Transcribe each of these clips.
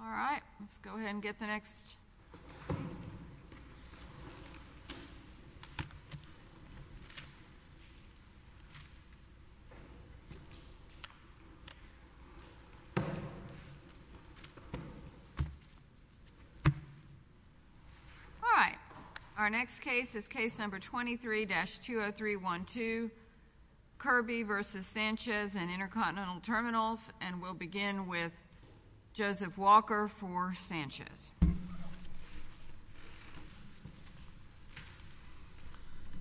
All right, let's go ahead and get the next. All right, our next case is case number 23-20312, Kirby v. Sanchez and Intercontinental Terminals, and we'll begin with Joseph Walker for Sanchez.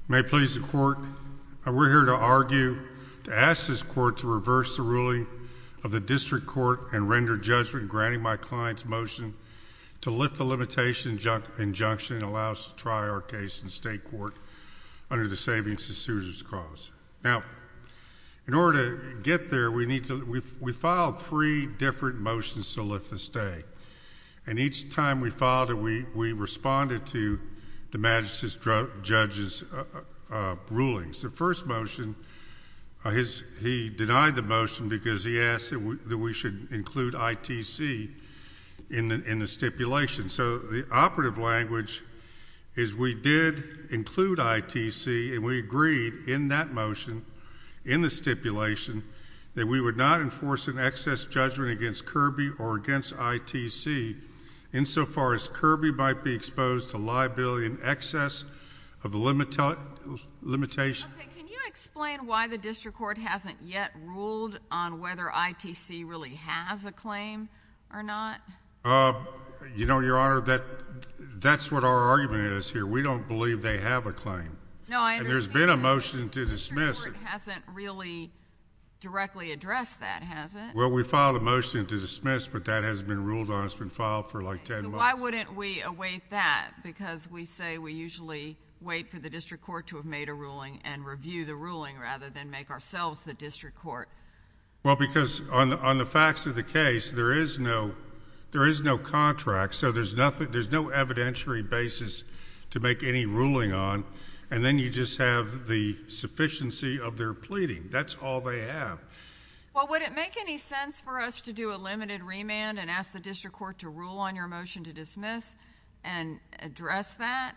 May it please the Court, we're here to argue, to ask this Court to reverse the ruling of the District Court and render judgment, granting my client's motion to lift the limitation injunction and allow us to try our case in State Court under the Savings and Suicides Clause. Now, in order to get there, we filed three different motions to lift the stake, and each time we filed it, we responded to the Majesty's Judge's rulings. The first motion, he denied the motion because he asked that we should include ITC in the stipulation. So the operative language is we did include ITC and we agreed in that motion, in the stipulation, that we would not enforce an excess judgment against Kirby or against ITC insofar as Kirby might be exposed to liability in excess of the limitation. Okay. Can you explain why the District Court hasn't yet ruled on whether ITC really has a claim or not? You know, Your Honor, that's what our argument is here. We don't believe they have a claim. No, I understand. And there's been a motion to dismiss it. The District Court hasn't really directly addressed that, has it? Well, we filed a motion to dismiss, but that hasn't been ruled on. It's been filed for like 10 months. Why wouldn't we await that? Because we say we usually wait for the District Court to have made a ruling and review the ruling rather than make ourselves the District Court. Well, because on the facts of the case, there is no contract, so there's no evidentiary basis to make any ruling on, and then you just have the sufficiency of their pleading. That's all they have. Well, would it make any sense for us to do a limited remand and ask the District Court to rule on your motion to dismiss and address that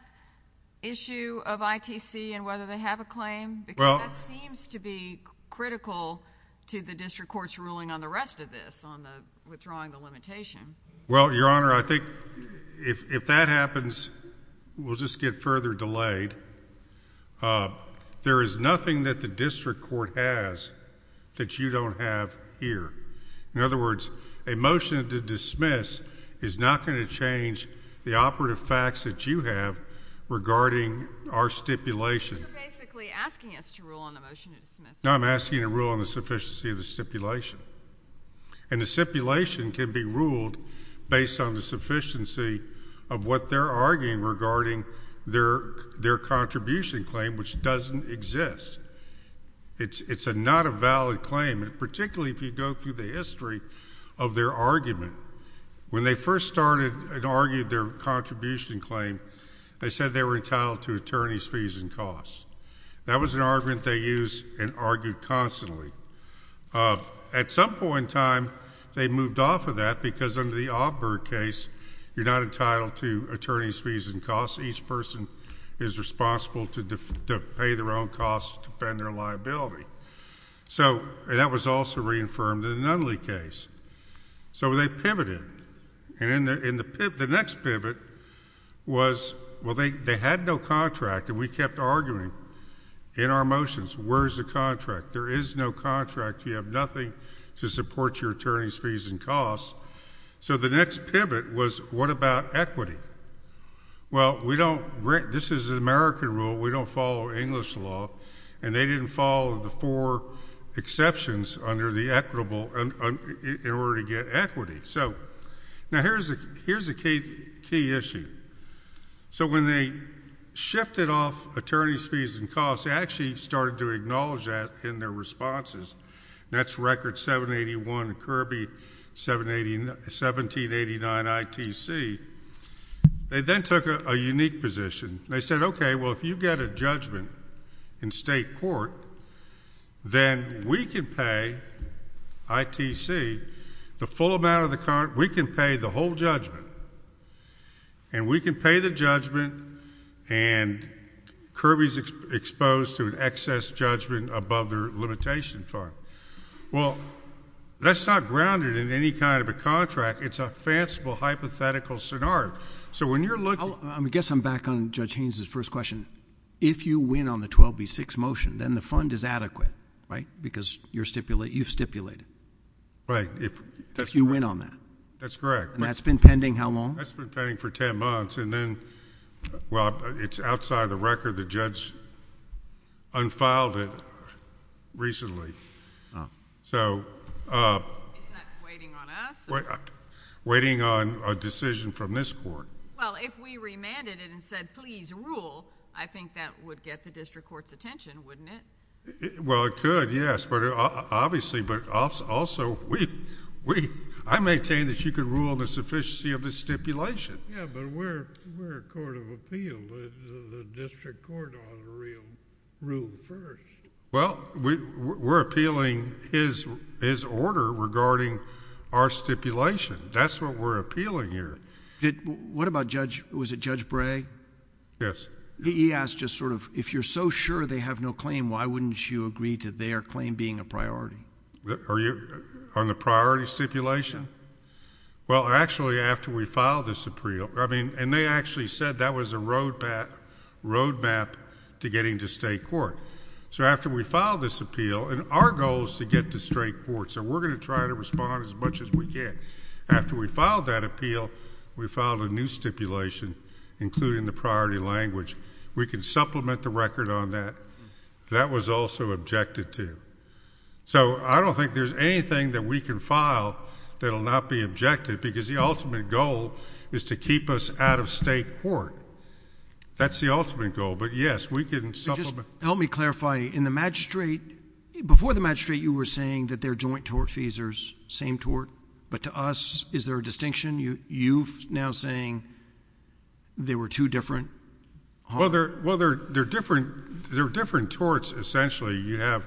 issue of ITC and whether they have a claim? Well... Because that seems to be critical to the District Court's ruling on the rest of this, on withdrawing the limitation. Well, Your Honor, I think if that happens, we'll just get further delayed. There is nothing that the District Court has that you don't have here. In other words, a motion to dismiss is not going to change the operative facts that you have regarding our stipulation. But you're basically asking us to rule on the motion to dismiss. No, I'm asking to rule on the sufficiency of the stipulation. And the stipulation can be ruled based on the sufficiency of what they're arguing regarding their contribution claim, which doesn't exist. It's not a valid claim, particularly if you go through the history of their argument. When they first started and argued their contribution claim, they said they were entitled to attorney's fees and costs. That was an argument they used and argued constantly. At some point in time, they moved off of that because under the Auburn case, you're not entitled to attorney's fees and costs. Each person is responsible to pay their own costs to defend their liability. So that was also reaffirmed in the Nunley case. So they pivoted. And the next pivot was, well, they had no contract, and we kept arguing in our motions, where's the contract? There is no contract. You have nothing to support your attorney's fees and costs. So the next pivot was, what about equity? Well, we don't—this is an American rule. We don't follow English law. And they didn't follow the four exceptions under the equitable—in order to get equity. So now here's the key issue. So when they shifted off attorney's fees and costs, they actually started to acknowledge that in their responses. That's record 781 Kirby, 1789 ITC. They then took a unique position. They said, okay, well, if you get a judgment in state court, then we can pay ITC the full amount of the current—we can pay the whole judgment. And we can pay the judgment, and Kirby's exposed to an excess judgment above their limitation fund. Well, that's not grounded in any kind of a contract. It's a fanciful, hypothetical scenario. So when you're looking— I guess I'm back on Judge Haynes' first question. If you win on the 12B6 motion, then the fund is adequate, right? Because you've stipulated. Right. If you win on that. That's correct. And that's been pending how long? That's been pending for 10 months, and then, well, it's outside the record. The judge unfiled it recently. So... It's not waiting on us or... Waiting on a decision from this court. Well, if we remanded it and said, please rule, I think that would get the district court's attention, wouldn't it? Well, it could, yes, but obviously, but also, I maintain that you can rule on the sufficiency of the stipulation. Yeah, but we're a court of appeal. The district court ought to rule first. Well, we're appealing his order regarding our stipulation. That's what we're appealing here. What about Judge... was it Judge Bray? Yes. He asked just sort of, if you're so sure they have no claim, why wouldn't you agree to their claim being a priority? On the priority stipulation? Yeah. Well, actually, after we filed this appeal, I mean, and they actually said that was a roadmap to getting to state court. So after we filed this appeal, and our goal is to get to state court, so we're going to try to respond as much as we can. After we filed that appeal, we filed a new stipulation including the priority language. We can supplement the record on that. That was also objected to. So I don't think there's anything that we can file that will not be objected because the ultimate goal is to keep us out of state court. That's the ultimate goal. But yes, we can supplement... But just help me clarify, in the magistrate... before the magistrate, you were saying that they're joint tort feasors, same tort. But to us, is there a distinction? You now saying they were two different... Well, they're different... they're different torts, essentially. You have...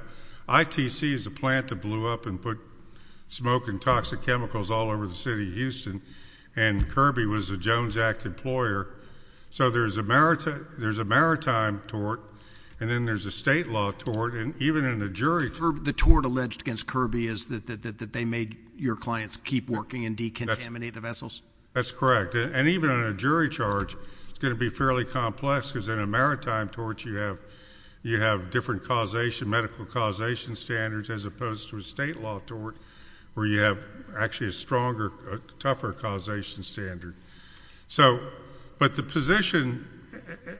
ITC is a plant that blew up and put smoke and toxic chemicals all over the city of Houston, and Kirby was a Jones Act employer. So there's a maritime tort, and then there's a state law tort, and even in a jury... The tort alleged against Kirby is that they made your clients keep working and decontaminate the vessels? That's correct. And even on a jury charge, it's going to be fairly complex because in a maritime tort, you have different medical causation standards as opposed to a state law tort where you have actually a stronger, tougher causation standard. So... but the position...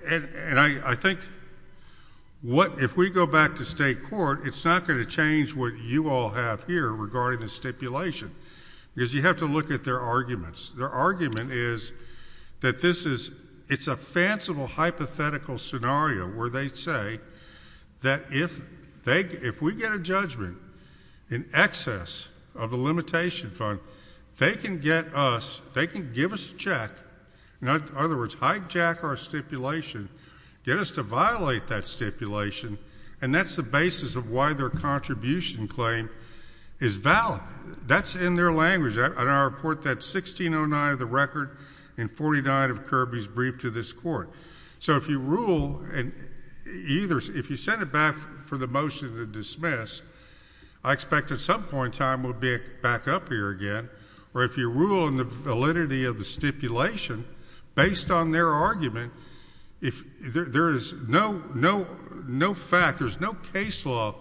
and I think what... if we go back to state court, it's not going to change what you all have here regarding the stipulation, because you have to look at their arguments. Their argument is that this is... it's a fanciful hypothetical scenario where they They can get us... they can give us a check, in other words, hijack our stipulation, get us to violate that stipulation, and that's the basis of why their contribution claim is valid. That's in their language. And I report that 1609 of the record and 49 of Kirby's brief to this court. So if you rule and either... if you send it back for the motion to dismiss, I expect at some point in time we'll be back up here again. Or if you rule in the validity of the stipulation, based on their argument, if... there is no... no fact, there's no case law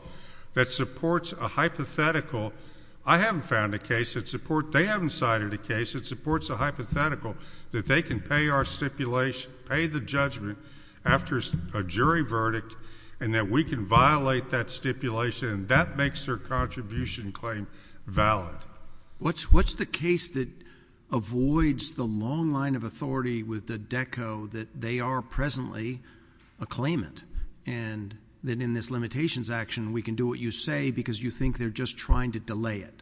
that supports a hypothetical. I haven't found a case that supports... they haven't cited a case that supports a hypothetical that they can pay our stipulation, pay the judgment after a jury verdict, and that we can violate that stipulation, and that makes their contribution claim valid. What's the case that avoids the long line of authority with the DECO that they are presently a claimant and that in this limitations action we can do what you say because you think they're just trying to delay it?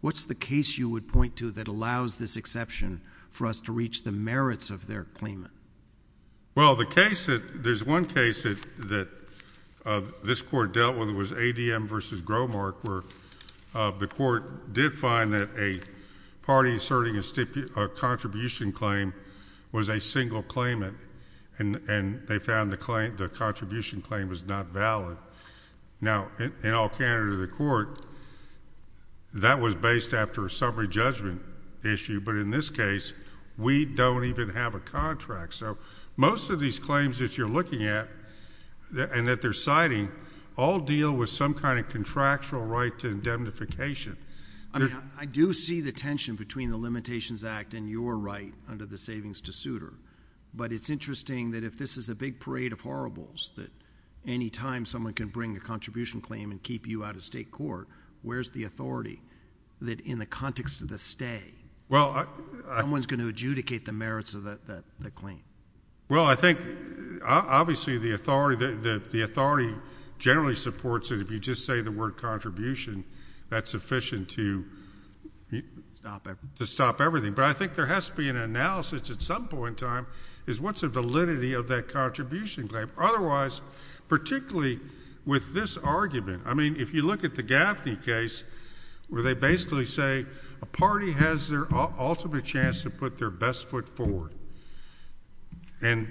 What's the case you would point to that allows this exception for us to reach the merits of their claimant? Well, the case that... there's one case that this Court dealt with. It was ADM v. Gromark where the Court did find that a party asserting a contribution claim was a single claimant, and they found the contribution claim was not valid. Now in all candidate of the Court, that was based after a summary judgment issue, but in this case, we don't even have a contract. So most of these claims that you're looking at and that they're citing all deal with some kind of contractual right to indemnification. I do see the tension between the Limitations Act and your right under the Savings-to-Suitor, but it's interesting that if this is a big parade of horribles that any time someone can bring a contribution claim and keep you out of state court, where's the authority that in the context of the stay, someone's going to adjudicate the merits of the claim? Well, I think, obviously, the authority generally supports it if you just say the word contribution, that's sufficient to... Stop everything.... to stop everything, but I think there has to be an analysis at some point in time is what's the validity of that contribution claim? Otherwise, particularly with this argument... I mean, if you look at the Gaffney case, where they basically say a party has their ultimate chance to put their best foot forward, and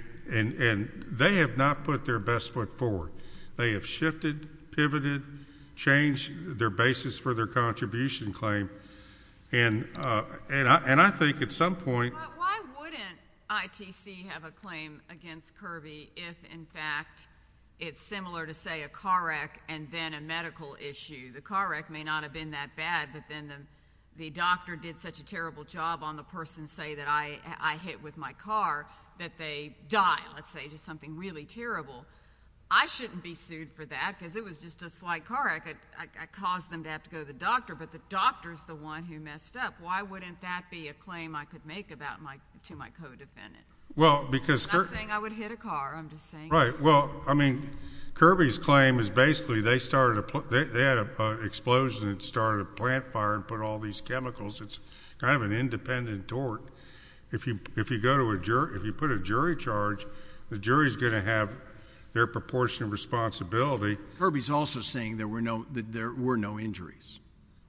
they have not put their best foot forward. They have shifted, pivoted, changed their basis for their contribution claim, and I think at some point... But why wouldn't ITC have a claim against Kirby if, in fact, it's similar to, say, a car wreck and then a medical issue? The car wreck may not have been that bad, but then the doctor did such a terrible job on the person, say, that I hit with my car, that they die, let's say, to something really terrible. I shouldn't be sued for that because it was just a slight car wreck. I caused them to have to go to the doctor, but the doctor's the one who messed up. Why wouldn't that be a claim I could make to my co-defendant? I'm not saying I would hit a car, I'm just saying... Right. Well, I mean, Kirby's claim is basically they had an explosion that started a plant fire and put all these chemicals. It's kind of an independent tort. If you put a jury charge, the jury's going to have their proportionate responsibility. Kirby's also saying that there were no injuries.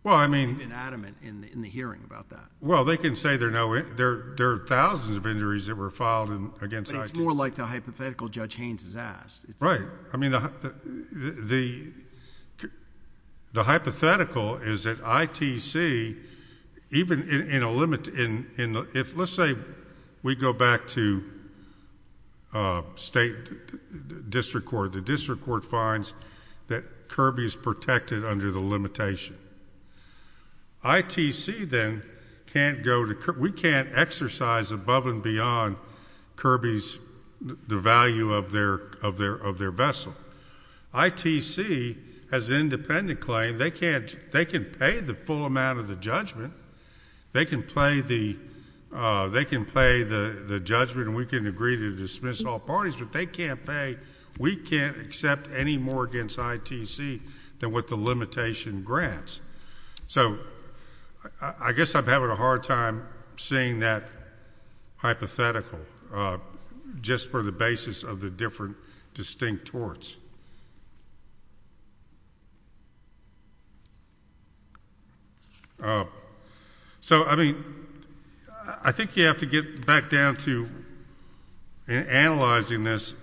Well, I mean... He may have been adamant in the hearing about that. Well, they can say there are thousands of injuries that were filed against ITC. It's more like the hypothetical Judge Haynes has asked. Right. I mean, the hypothetical is that ITC, even in a... let's say we go back to state district court. The district court finds that Kirby's protected under the limitation. ITC, then, can't go to... we can't exercise above and beyond Kirby's... the value of their vessel. ITC has an independent claim. They can pay the full amount of the judgment. They can pay the judgment and we can agree to dismiss all parties, but they can't pay... we can't accept any more against ITC than what the limitation grants. So, I guess I'm having a hard time seeing that hypothetical just for the basis of the different distinct torts. So I mean, I think you have to get back down to... in analyzing this,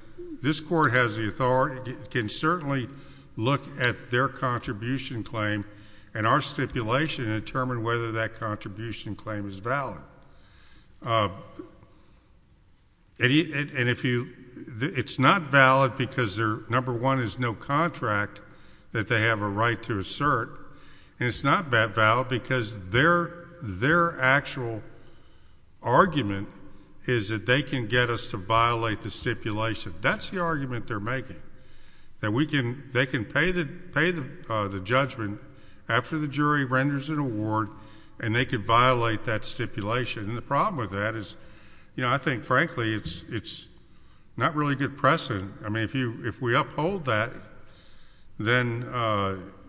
this court has the authority... can certainly look at their contribution claim and our stipulation and determine whether that contribution claim is valid. And if you... it's not valid because their number one is no contract that they have a right to assert and it's not valid because their actual argument is that they can get us to violate the stipulation. That's the argument they're making, that we can... they can pay the judgment after the jury renders an award and they can violate that stipulation. And the problem with that is, you know, I think frankly it's not really good precedent. I mean, if you... if we uphold that, then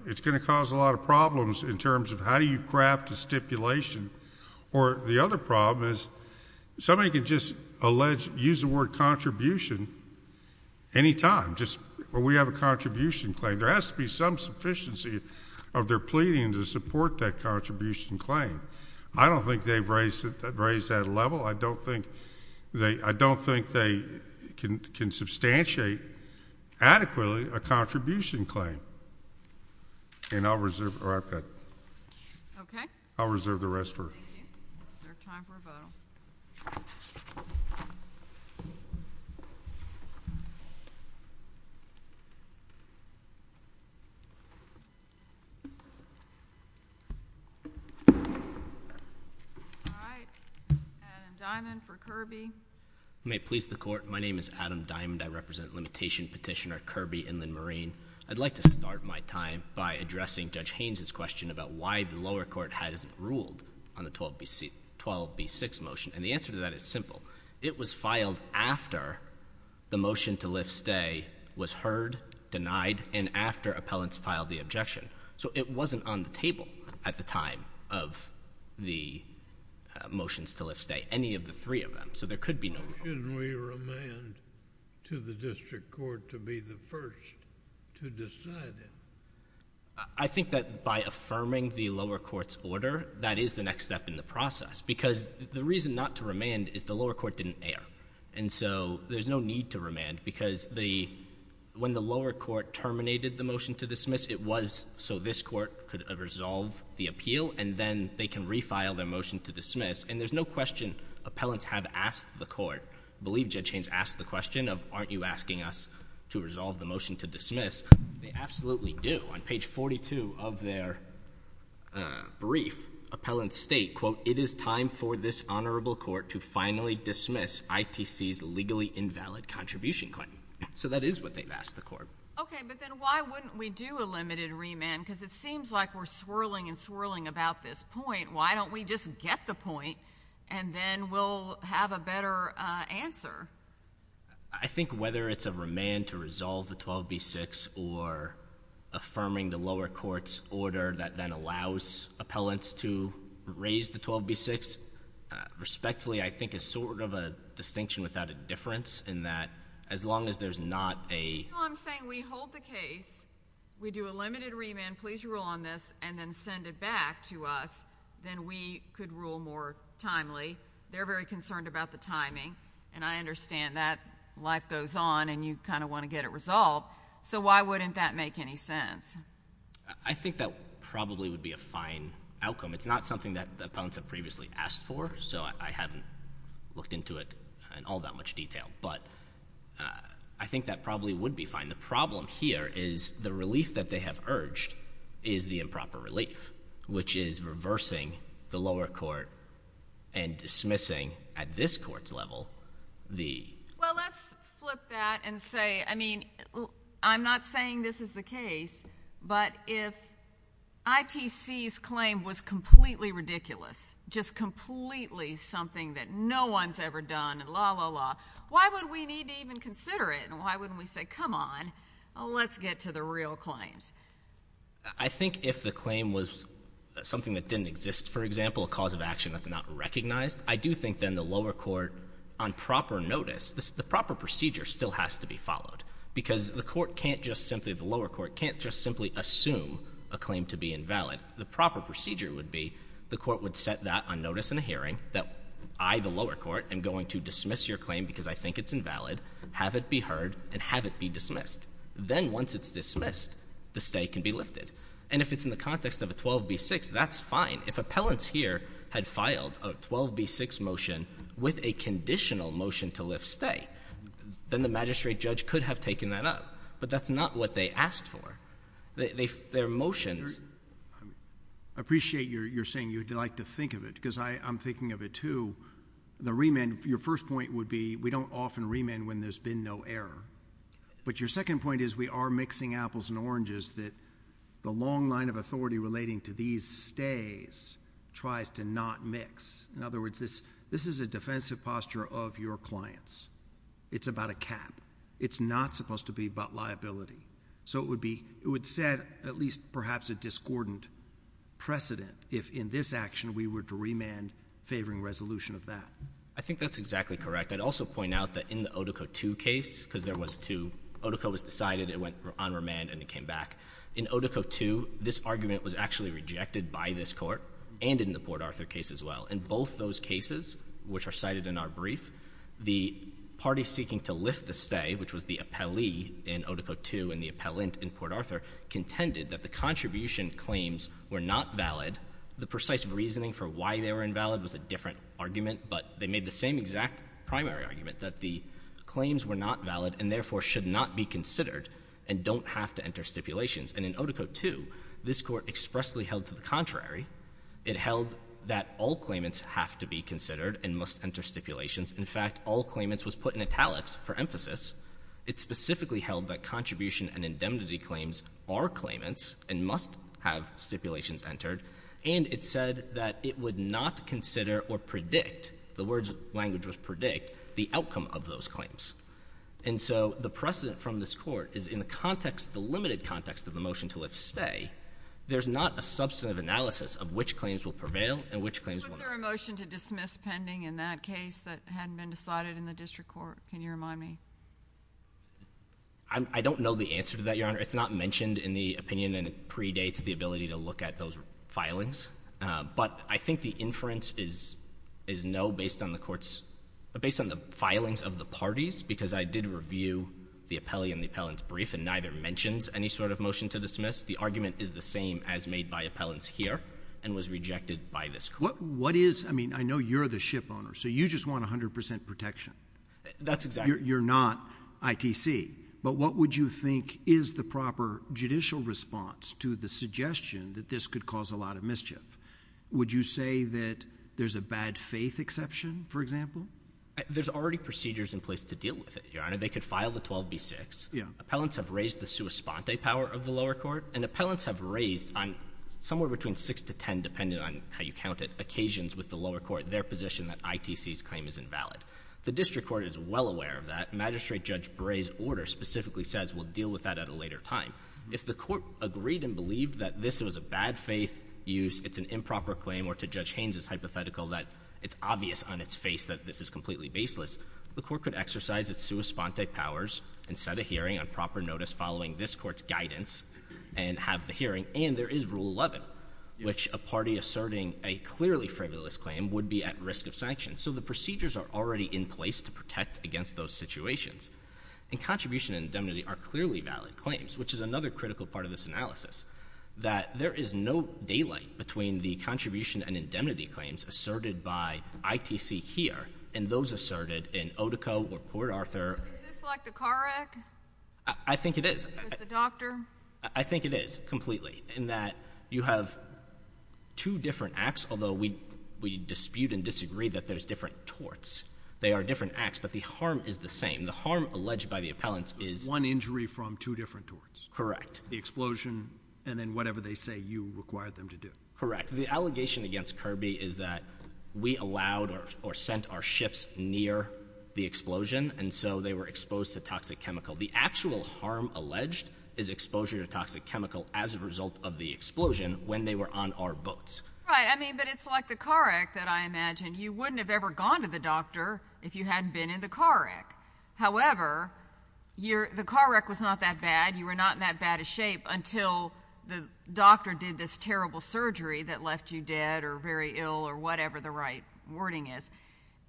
it's going to cause a lot of problems in terms of how do you craft a stipulation. Or the other problem is somebody could just allege, use the word contribution any time, just... or we have a contribution claim. There has to be some sufficiency of their pleading to support that contribution claim. I don't think they've raised that level. I don't think they... I don't think they can substantiate adequately a contribution claim. And I'll reserve... or I've got... Okay. I'll reserve the rest for... Thank you. Is there time for a vote? All right. Adam Diamond for Kirby. You may please the Court. My name is Adam Diamond. I represent Limitation Petitioner Kirby Inland-Marine. I'd like to start my time by addressing Judge Haynes' question about why the lower court has ruled on the 12B6 motion. And the answer to that is simple. It was filed after the motion to lift stay was heard, denied, and after appellants filed the objection. So it wasn't on the table at the time of the motions to lift stay, any of the three of them. So there could be no... Why shouldn't we remand to the district court to be the first to decide it? I think that by affirming the lower court's order, that is the next step in the process. Because the reason not to remand is the lower court didn't err. And so there's no need to remand because the... when the lower court terminated the motion to dismiss, it was so this court could resolve the appeal, and then they can refile their motion to dismiss. And there's no question appellants have asked the court, I believe Judge Haynes asked the question of, aren't you asking us to resolve the motion to dismiss? They absolutely do. On page 42 of their brief, appellants state, quote, it is time for this honorable court to finally dismiss ITC's legally invalid contribution claim. So that is what they've asked the court. Okay, but then why wouldn't we do a limited remand? Because it seems like we're swirling and swirling about this point. Why don't we just get the point, and then we'll have a better answer? I think whether it's a remand to resolve the 12b-6 or affirming the lower court's order that then allows appellants to raise the 12b-6, respectfully, I think it's sort of a distinction without a difference in that as long as there's not a... No, I'm saying we hold the case, we do a limited remand, please rule on this, and then send it back to us, then we could rule more timely. They're very concerned about the timing, and I understand that life goes on and you kind of want to get it resolved, so why wouldn't that make any sense? I think that probably would be a fine outcome. It's not something that the appellants have previously asked for, so I haven't looked into it in all that much detail, but I think that probably would be fine. The problem here is the relief that they have urged is the improper relief, which is reversing the lower court and dismissing, at this court's level, the... Well, let's flip that and say, I mean, I'm not saying this is the case, but if ITC's claim was completely ridiculous, just completely something that no one's ever done, and la, la, la, why would we need to even consider it, and why wouldn't we say, come on, let's get to the real claims? I think if the claim was something that didn't exist, for example, a cause of action that's not recognized, I do think then the lower court, on proper notice, the proper procedure still has to be followed, because the lower court can't just simply assume a claim to be invalid. The proper procedure would be the court would set that on notice in a hearing, that I, the lower court, am going to dismiss your claim because I think it's invalid, have it be heard, and have it be dismissed. Then once it's dismissed, the stay can be lifted. And if it's in the context of a 12B6, that's fine. If appellants here had filed a 12B6 motion with a conditional motion to lift stay, then the magistrate judge could have taken that up, but that's not what they asked for. Their motions... I appreciate your saying you'd like to think of it, because I'm thinking of it, too. The remand, your first point would be, we don't often remand when there's been no error. But your second point is, we are mixing apples and oranges, that the long line of authority relating to these stays tries to not mix. In other words, this is a defensive posture of your clients. It's about a cap. It's not supposed to be about liability. So it would set, at least perhaps, a discordant precedent if, in this action, we were to remand favoring resolution of that. I think that's exactly correct. I'd also point out that in the Otoco II case, because there was two, Otoco was decided, it went on remand, and it came back. In Otoco II, this argument was actually rejected by this Court, and in the Port Arthur case as well. In both those cases, which are cited in our brief, the party seeking to lift the stay, which was the appellee in Otoco II and the appellant in Port Arthur, contended that the contribution claims were not valid. The precise reasoning for why they were invalid was a different argument, but they made the same exact primary argument, that the claims were not valid and therefore should not be considered and don't have to enter stipulations. And in Otoco II, this Court expressly held to the contrary. It held that all claimants have to be considered and must enter stipulations. In fact, all claimants was put in italics for emphasis. It specifically held that contribution and indemnity claims are claimants and must have or predict, the words, language was predict, the outcome of those claims. And so the precedent from this Court is in the context, the limited context of the motion to lift stay, there's not a substantive analysis of which claims will prevail and which claims won't. Was there a motion to dismiss pending in that case that hadn't been decided in the District Court? Can you remind me? I don't know the answer to that, Your Honor. It's not mentioned in the opinion, and it predates the ability to look at those filings. But I think the inference is no, based on the court's, based on the filings of the parties, because I did review the appellee and the appellant's brief, and neither mentions any sort of motion to dismiss. The argument is the same as made by appellants here and was rejected by this Court. What is, I mean, I know you're the ship owner, so you just want 100% protection. That's exactly. You're not ITC. But what would you think is the proper judicial response to the suggestion that this could cause a lot of mischief? Would you say that there's a bad faith exception, for example? There's already procedures in place to deal with it, Your Honor. They could file the 12B6. Yeah. Appellants have raised the sua sponte power of the lower court, and appellants have raised on somewhere between 6 to 10, depending on how you count it, occasions with the lower court, their position that ITC's claim is invalid. The District Court is well aware of that. Magistrate Judge Bray's order specifically says we'll deal with that at a later time. If the Court agreed and believed that this was a bad faith use, it's an improper claim, or to Judge Haynes' hypothetical that it's obvious on its face that this is completely baseless, the Court could exercise its sua sponte powers and set a hearing on proper notice following this Court's guidance and have the hearing. And there is Rule 11, which a party asserting a clearly frivolous claim would be at risk of sanction. So the procedures are already in place to protect against those situations. And contribution and indemnity are clearly valid claims, which is another critical part of this analysis, that there is no daylight between the contribution and indemnity claims asserted by ITC here and those asserted in Otico or Port Arthur. Is this like the car wreck? I think it is. With the doctor? I think it is, completely, in that you have two different acts, although we dispute and disagree that there's different torts. They are different acts, but the harm is the same. And the harm alleged by the appellants is... One injury from two different torts. Correct. The explosion, and then whatever they say you required them to do. Correct. The allegation against Kirby is that we allowed or sent our ships near the explosion, and so they were exposed to toxic chemical. The actual harm alleged is exposure to toxic chemical as a result of the explosion when they were on our boats. Right, I mean, but it's like the car wreck that I imagined. You wouldn't have ever gone to the doctor if you hadn't been in the car wreck. However, the car wreck was not that bad. You were not in that bad of shape until the doctor did this terrible surgery that left you dead or very ill or whatever the right wording is.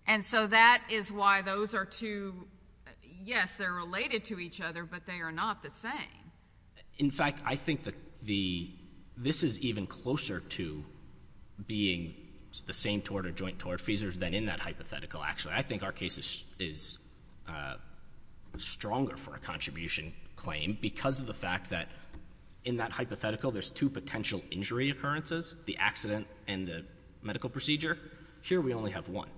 And so that is why those are two... Yes, they're related to each other, but they are not the same. In fact, I think that this is even closer to being the same tort or joint tort, Fesers, than in that hypothetical, actually. I think our case is stronger for a contribution claim because of the fact that in that hypothetical there's two potential injury occurrences, the accident and the medical procedure. Here we only have one.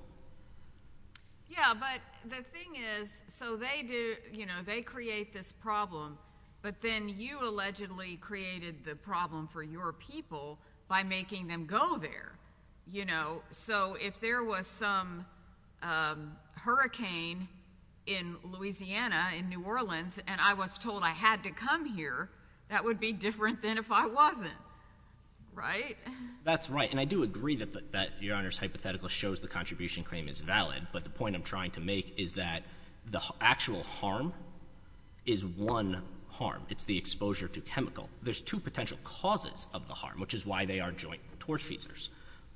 Yeah, but the thing is, so they do, you know, they create this problem, but then you allegedly created the problem for your people by making them go there. You know, so if there was some hurricane in Louisiana, in New Orleans, and I was told I had to come here, that would be different than if I wasn't, right? That's right. And I do agree that Your Honor's hypothetical shows the contribution claim is valid, but the point I'm trying to make is that the actual harm is one harm. It's the exposure to chemical. There's two potential causes of the harm, which is why they are joint tort, Fesers,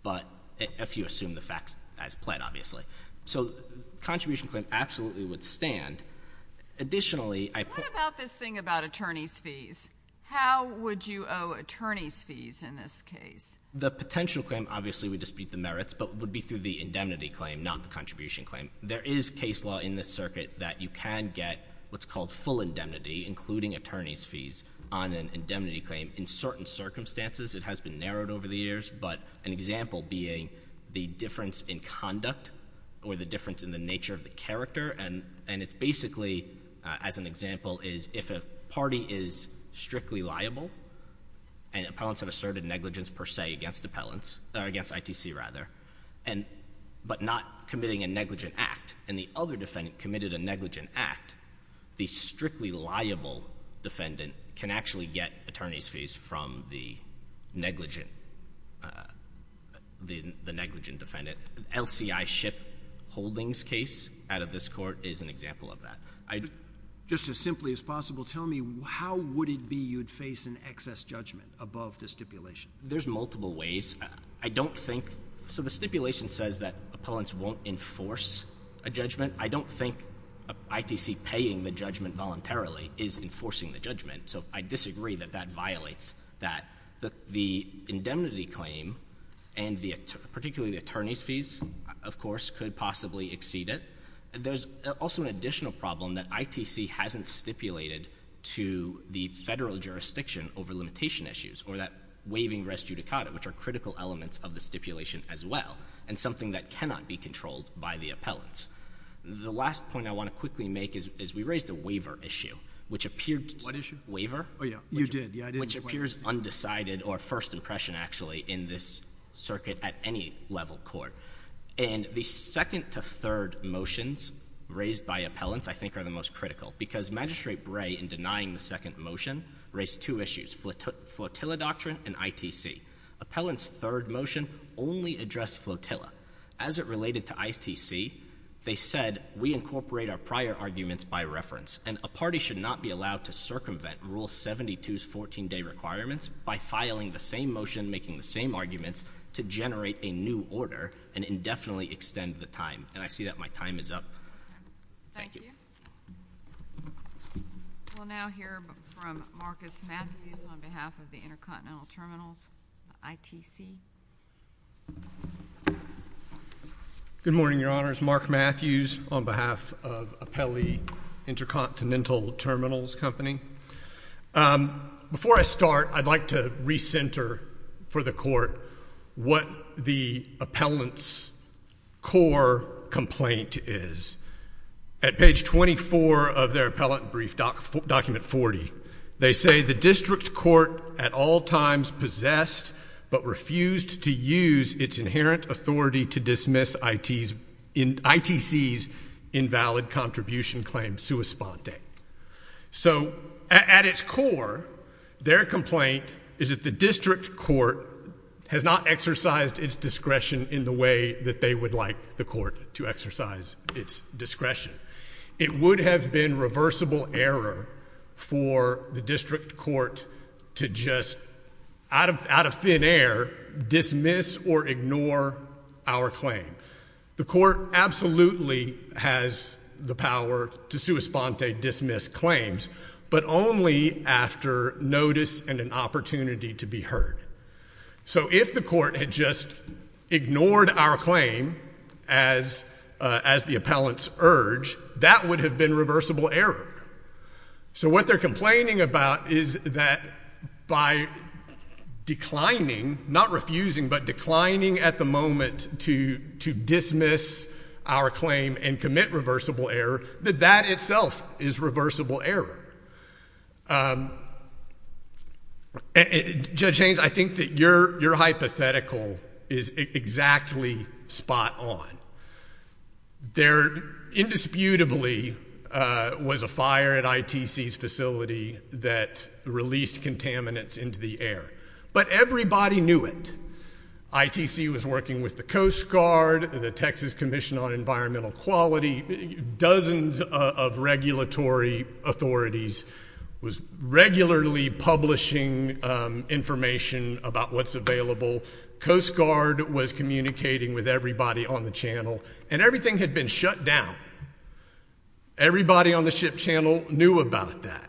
but if you assume the facts as pled, obviously. So contribution claim absolutely would stand. Additionally, I... What about this thing about attorney's fees? How would you owe attorney's fees in this case? The potential claim, obviously, would dispute the merits, but would be through the indemnity claim, not the contribution claim. There is case law in this circuit that you can get what's called full indemnity, including attorney's fees, on an indemnity claim in certain circumstances. It has been narrowed over the years, but an example being the difference in conduct or the difference in the nature of the character, and it's basically, as an example, is if a defendant committed a negligent act, the strictly liable defendant can actually get attorney's fees from the negligent, the negligent defendant. LCI Shipp Holdings case out of this court is an example of that. Just as simply as possible, tell me how would it be you'd face an excess judgment above the stipulation? There's multiple ways. I don't think... So the stipulation says that appellants won't enforce a judgment. I don't think ITC paying the judgment voluntarily is enforcing the judgment, so I disagree that that violates that. The indemnity claim, and particularly the attorney's fees, of course, could possibly exceed it. There's also an additional problem that ITC hasn't stipulated to the federal jurisdiction over limitation issues, or that waiving res judicata, which are critical elements of the stipulation as well, and something that cannot be controlled by the appellants. The last point I want to quickly make is we raised a waiver issue, which appeared... What issue? Waiver. Oh, yeah. You did. Yeah, I did. Which appears undecided, or first impression, actually, in this circuit at any level court, and the second to third motions raised by appellants, I think, are the most critical because Magistrate Bray, in denying the second motion, raised two issues, flotilla doctrine and ITC. Appellants' third motion only addressed flotilla. As it related to ITC, they said, we incorporate our prior arguments by reference, and a party should not be allowed to circumvent Rule 72's 14-day requirements by filing the same motion, making the same arguments, to generate a new order and indefinitely extend the time, and I see that my time is up. Thank you. We'll now hear from Marcus Matthews on behalf of the Intercontinental Terminals, ITC. Good morning, Your Honors. Mark Matthews on behalf of Apelli Intercontinental Terminals Company. Before I start, I'd like to recenter for the Court what the appellant's core complaint is. At page 24 of their appellant brief, document 40, they say, the district court at all times possessed but refused to use its inherent authority to dismiss ITC's invalid contribution claim sua sponte. So at its core, their complaint is that the district court has not exercised its discretion in the way that they would like the court to exercise its discretion. It would have been reversible error for the district court to just, out of thin air, dismiss or ignore our claim. The court absolutely has the power to sua sponte dismiss claims, but only after notice and an opportunity to be heard. So if the court had just ignored our claim as the appellant's urge, that would have been reversible error. So what they're complaining about is that by declining, not refusing, but declining at the moment to dismiss our claim and commit reversible error, that that itself is reversible error. Judge Haynes, I think that your hypothetical is exactly spot on. There indisputably was a fire at ITC's facility that released contaminants into the air. But everybody knew it. ITC was working with the Coast Guard, the Texas Commission on Environmental Quality, dozens of regulatory authorities was regularly publishing information about what's available. Coast Guard was communicating with everybody on the channel. And everything had been shut down. Everybody on the ship channel knew about that.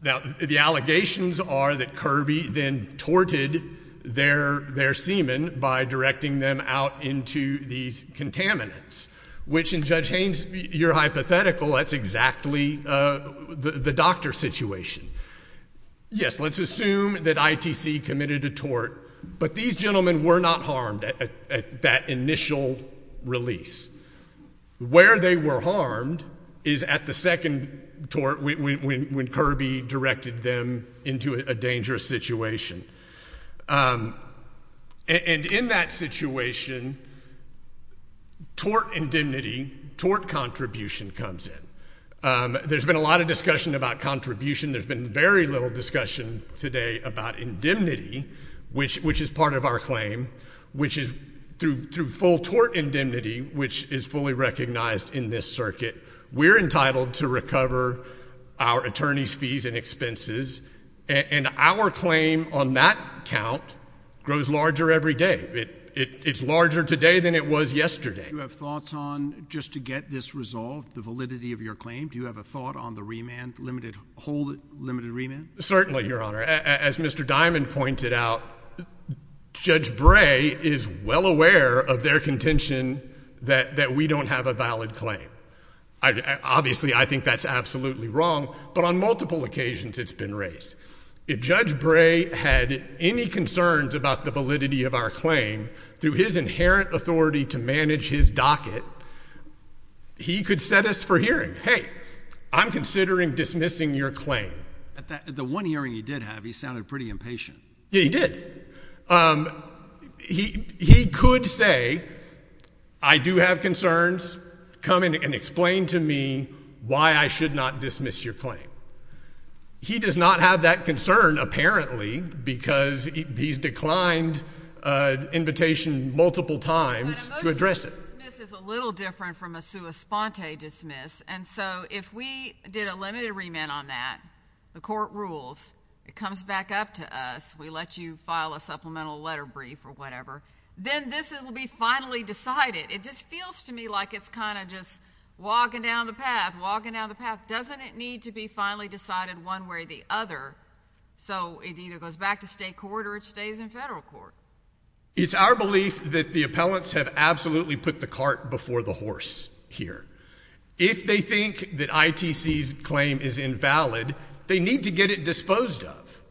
The allegations are that Kirby then torted their seamen by directing them out into these contaminants, which in Judge Haynes, your hypothetical, that's exactly the doctor's situation. Yes, let's assume that ITC committed a tort, but these gentlemen were not harmed at that initial release. Where they were harmed is at the second tort when Kirby directed them into a dangerous situation. And in that situation, tort indemnity, tort contribution comes in. There's been a lot of discussion about contribution. There's been very little discussion today about indemnity, which is part of our claim, which is through full tort indemnity, which is fully recognized in this circuit. We're entitled to recover our attorneys' fees and expenses. And our claim on that count grows larger every day. It's larger today than it was yesterday. Do you have thoughts on, just to get this resolved, the validity of your claim, do you have a thought on the remand, whole limited remand? Certainly, Your Honor. As Mr. Diamond pointed out, Judge Bray is well aware of their contention that we don't have a valid claim. Obviously, I think that's absolutely wrong, but on multiple occasions it's been raised. If Judge Bray had any concerns about the validity of our claim, through his inherent authority to manage his docket, he could set us for hearing, hey, I'm considering dismissing your claim. At the one hearing he did have, he sounded pretty impatient. Yeah, he did. He could say, I do have concerns, come in and explain to me why I should not dismiss your claim. He does not have that concern, apparently, because he's declined invitation multiple times to address it. But a motion to dismiss is a little different from a sua sponte dismiss, and so if we did a limited remand on that, the court rules, it comes back up to us. We let you file a supplemental letter brief or whatever, then this will be finally decided. It just feels to me like it's kind of just walking down the path, walking down the path. Doesn't it need to be finally decided one way or the other so it either goes back to state court or it stays in federal court? It's our belief that the appellants have absolutely put the cart before the horse here. If they think that ITC's claim is invalid, they need to get it disposed of.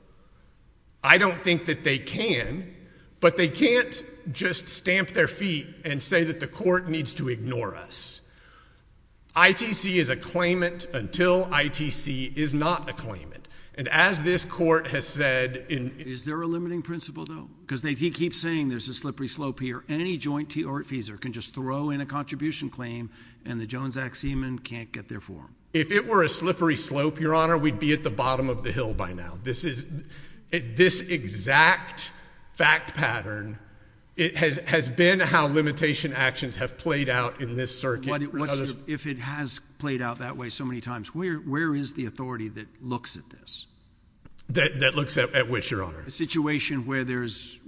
I don't think that they can, but they can't just stamp their feet and say that the court needs to ignore us. ITC is a claimant until ITC is not a claimant. And as this court has said in... Is there a limiting principle, though? Because they keep saying there's a slippery slope here. Any joint feeser can just throw in a contribution claim and the Jones Act seaman can't get their form. If it were a slippery slope, Your Honor, we'd be at the bottom of the hill by now. This exact fact pattern, it has been how limitation actions have played out in this circuit. If it has played out that way so many times, where is the authority that looks at this? That looks at which, Your Honor? A situation where there's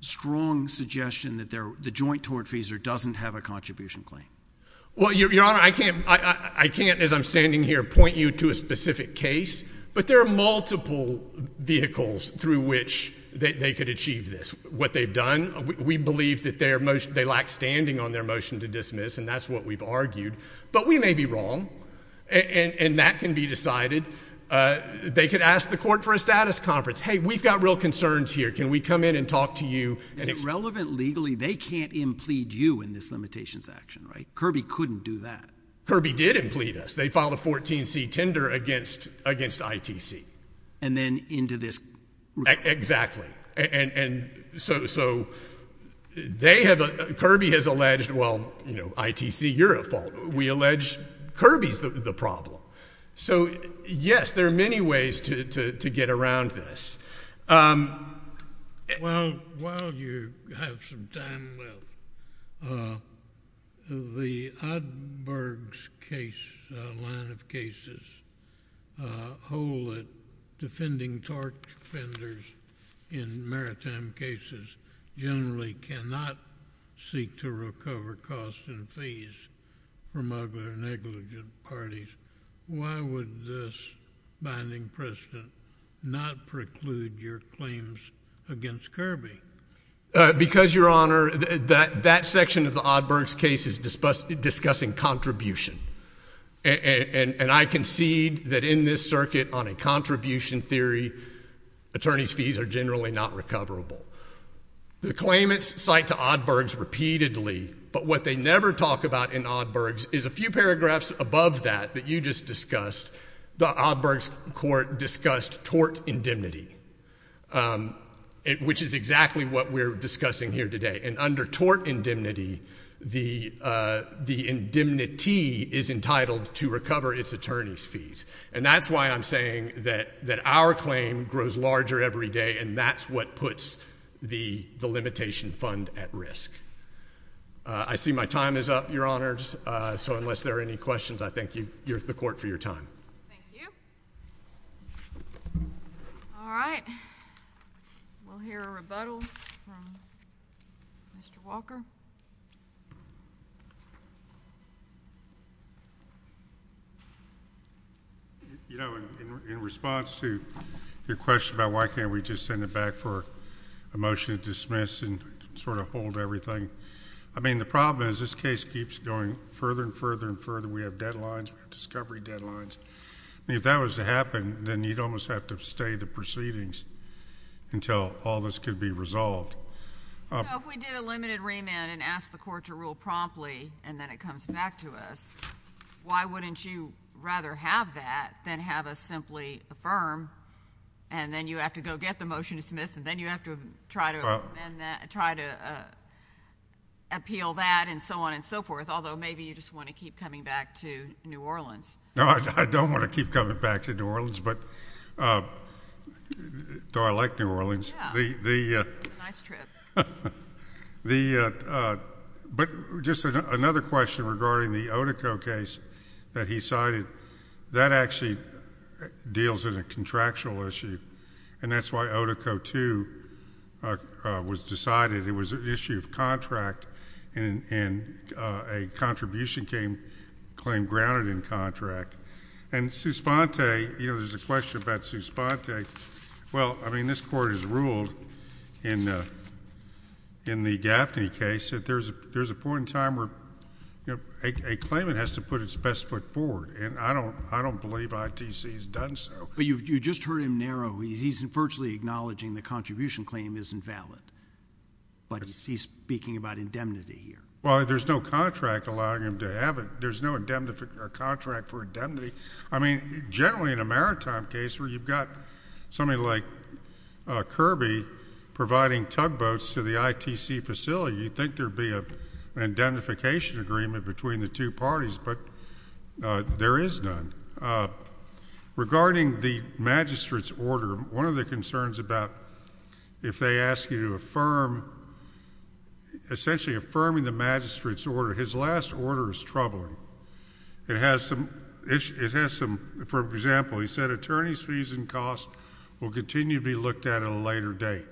strong suggestion that the joint tort feeser doesn't have a contribution claim. Well, Your Honor, I can't, as I'm standing here, point you to a specific case, but there are multiple vehicles through which they could achieve this. What they've done, we believe that they lack standing on their motion to dismiss, and that's what we've argued. But we may be wrong, and that can be decided. They could ask the court for a status conference. Hey, we've got real concerns here. Can we come in and talk to you? Is it relevant legally? They can't implead you in this limitations action, right? Kirby couldn't do that. Kirby did implead us. They filed a 14-C tender against ITC. And then into this... Exactly, and so they have... Kirby has alleged, well, ITC, you're at fault. We allege Kirby's the problem. So yes, there are many ways to get around this. Well, while you have some time left, the Odenberg's case, line of cases, hold that defending tort offenders in maritime cases generally cannot seek to recover costs and fees from other negligent parties. Why would this binding precedent not preclude your claims against Kirby? Because, Your Honor, that section of the Odenberg's case is discussing contribution. And I concede that in this circuit, on a contribution theory, attorneys' fees are generally not recoverable. The claimants cite to Odenberg's repeatedly, but what they never talk about in Odenberg's is a few paragraphs above that that you just discussed. The Odenberg's court discussed tort indemnity, which is exactly what we're discussing here today. And under tort indemnity, the indemnity is entitled to recover its attorney's fees. And that's why I'm saying that our claim grows larger every day, and that's what puts the limitation fund at risk. I see my time is up, Your Honors. So unless there are any questions, I thank you, the court, for your time. Thank you. All right. We'll hear a rebuttal from Mr. Walker. You know, in response to your question about why can't we just send it back for a motion to dismiss and sort of hold everything, I mean, the problem is this case keeps going further and further and further. We have deadlines. We have discovery deadlines. I mean, if that was to happen, then you'd almost have to stay the proceedings until all this could be resolved. So if we did a limited remand and asked the court to rule promptly and then it comes back to us, why wouldn't you rather have that than have us simply affirm, and then you have to go get the motion to dismiss, and then you have to try to appeal that and so on and so forth, although maybe you just want to keep coming back to New Orleans. No, I don't want to keep coming back to New Orleans, though I like New Orleans. It's a nice trip. But just another question regarding the Otico case that he cited. That actually deals in a contractual issue, and that's why Otico II was decided. It was an issue of contract, and a contribution claim grounded in contract. And Suspante, you know, there's a question about Suspante. Well, I mean, this Court has ruled in the Gaffney case that there's a point in time where a claimant has to put its best foot forward. I don't believe ITC has done so. But you just heard him narrow. He's virtually acknowledging the contribution claim isn't valid, but he's speaking about indemnity here. Well, there's no contract allowing him to have it. There's no contract for indemnity. I mean, generally in a maritime case where you've got somebody like Kirby providing tugboats to the ITC facility, you'd think there'd be an indemnification agreement between the two There is none. Regarding the magistrate's order, one of the concerns about if they ask you to affirm, essentially affirming the magistrate's order, his last order is troubling. It has some, for example, he said attorney's fees and costs will continue to be looked at at a later date.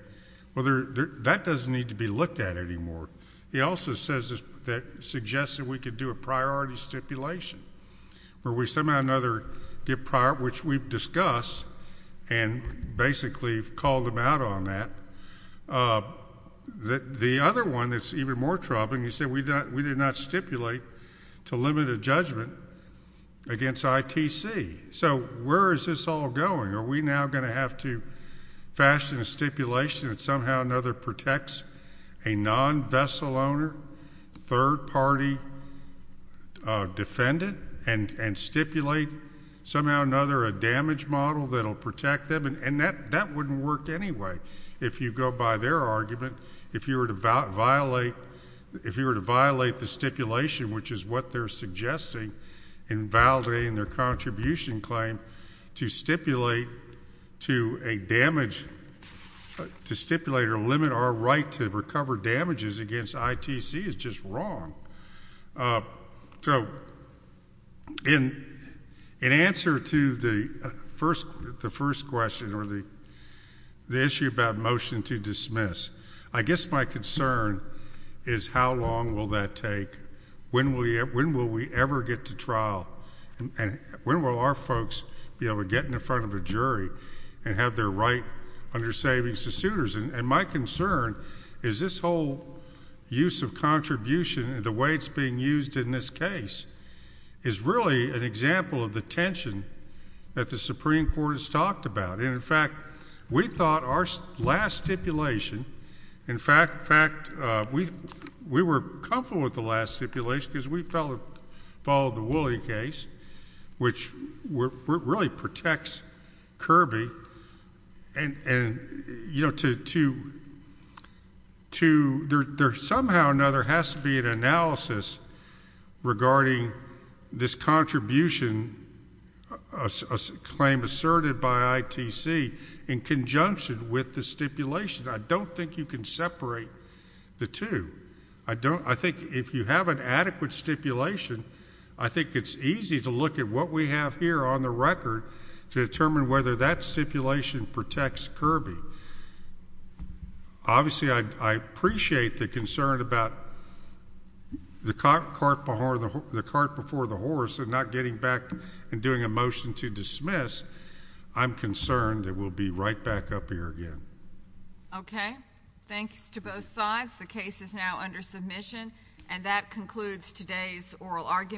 That doesn't need to be looked at anymore. He also says that suggests that we could do a priority stipulation where we somehow another get prior, which we've discussed and basically called them out on that. The other one that's even more troubling, he said we did not stipulate to limit a judgment against ITC. So where is this all going? Are we now going to have to fashion a stipulation that somehow another protects a non-vessel owner, third-party defendant, and stipulate somehow another, a damage model that'll protect them? And that wouldn't work anyway. If you go by their argument, if you were to violate the stipulation, which is what they're saying, to stipulate to a damage, to stipulate or limit our right to recover damages against ITC is just wrong. So in answer to the first question or the issue about motion to dismiss, I guess my concern is how long will that take? When will we ever get to trial and when will our folks be able to get in front of a jury and have their right under savings to suitors? And my concern is this whole use of contribution and the way it's being used in this case is really an example of the tension that the Supreme Court has talked about. And in fact, we thought our last stipulation, in fact, we were comfortable with the last stipulation because we followed the Woolley case, which really protects Kirby, and there somehow or another has to be an analysis regarding this contribution, a claim asserted by ITC in conjunction with the stipulation. I don't think you can separate the two. I think if you have an adequate stipulation, I think it's easy to look at what we have here on the record to determine whether that stipulation protects Kirby. Obviously, I appreciate the concern about the cart before the horse and not getting back and doing a motion to dismiss. I'm concerned that we'll be right back up here again. Okay. Thanks to both sides. The case is now under submission, and that concludes today's oral argument.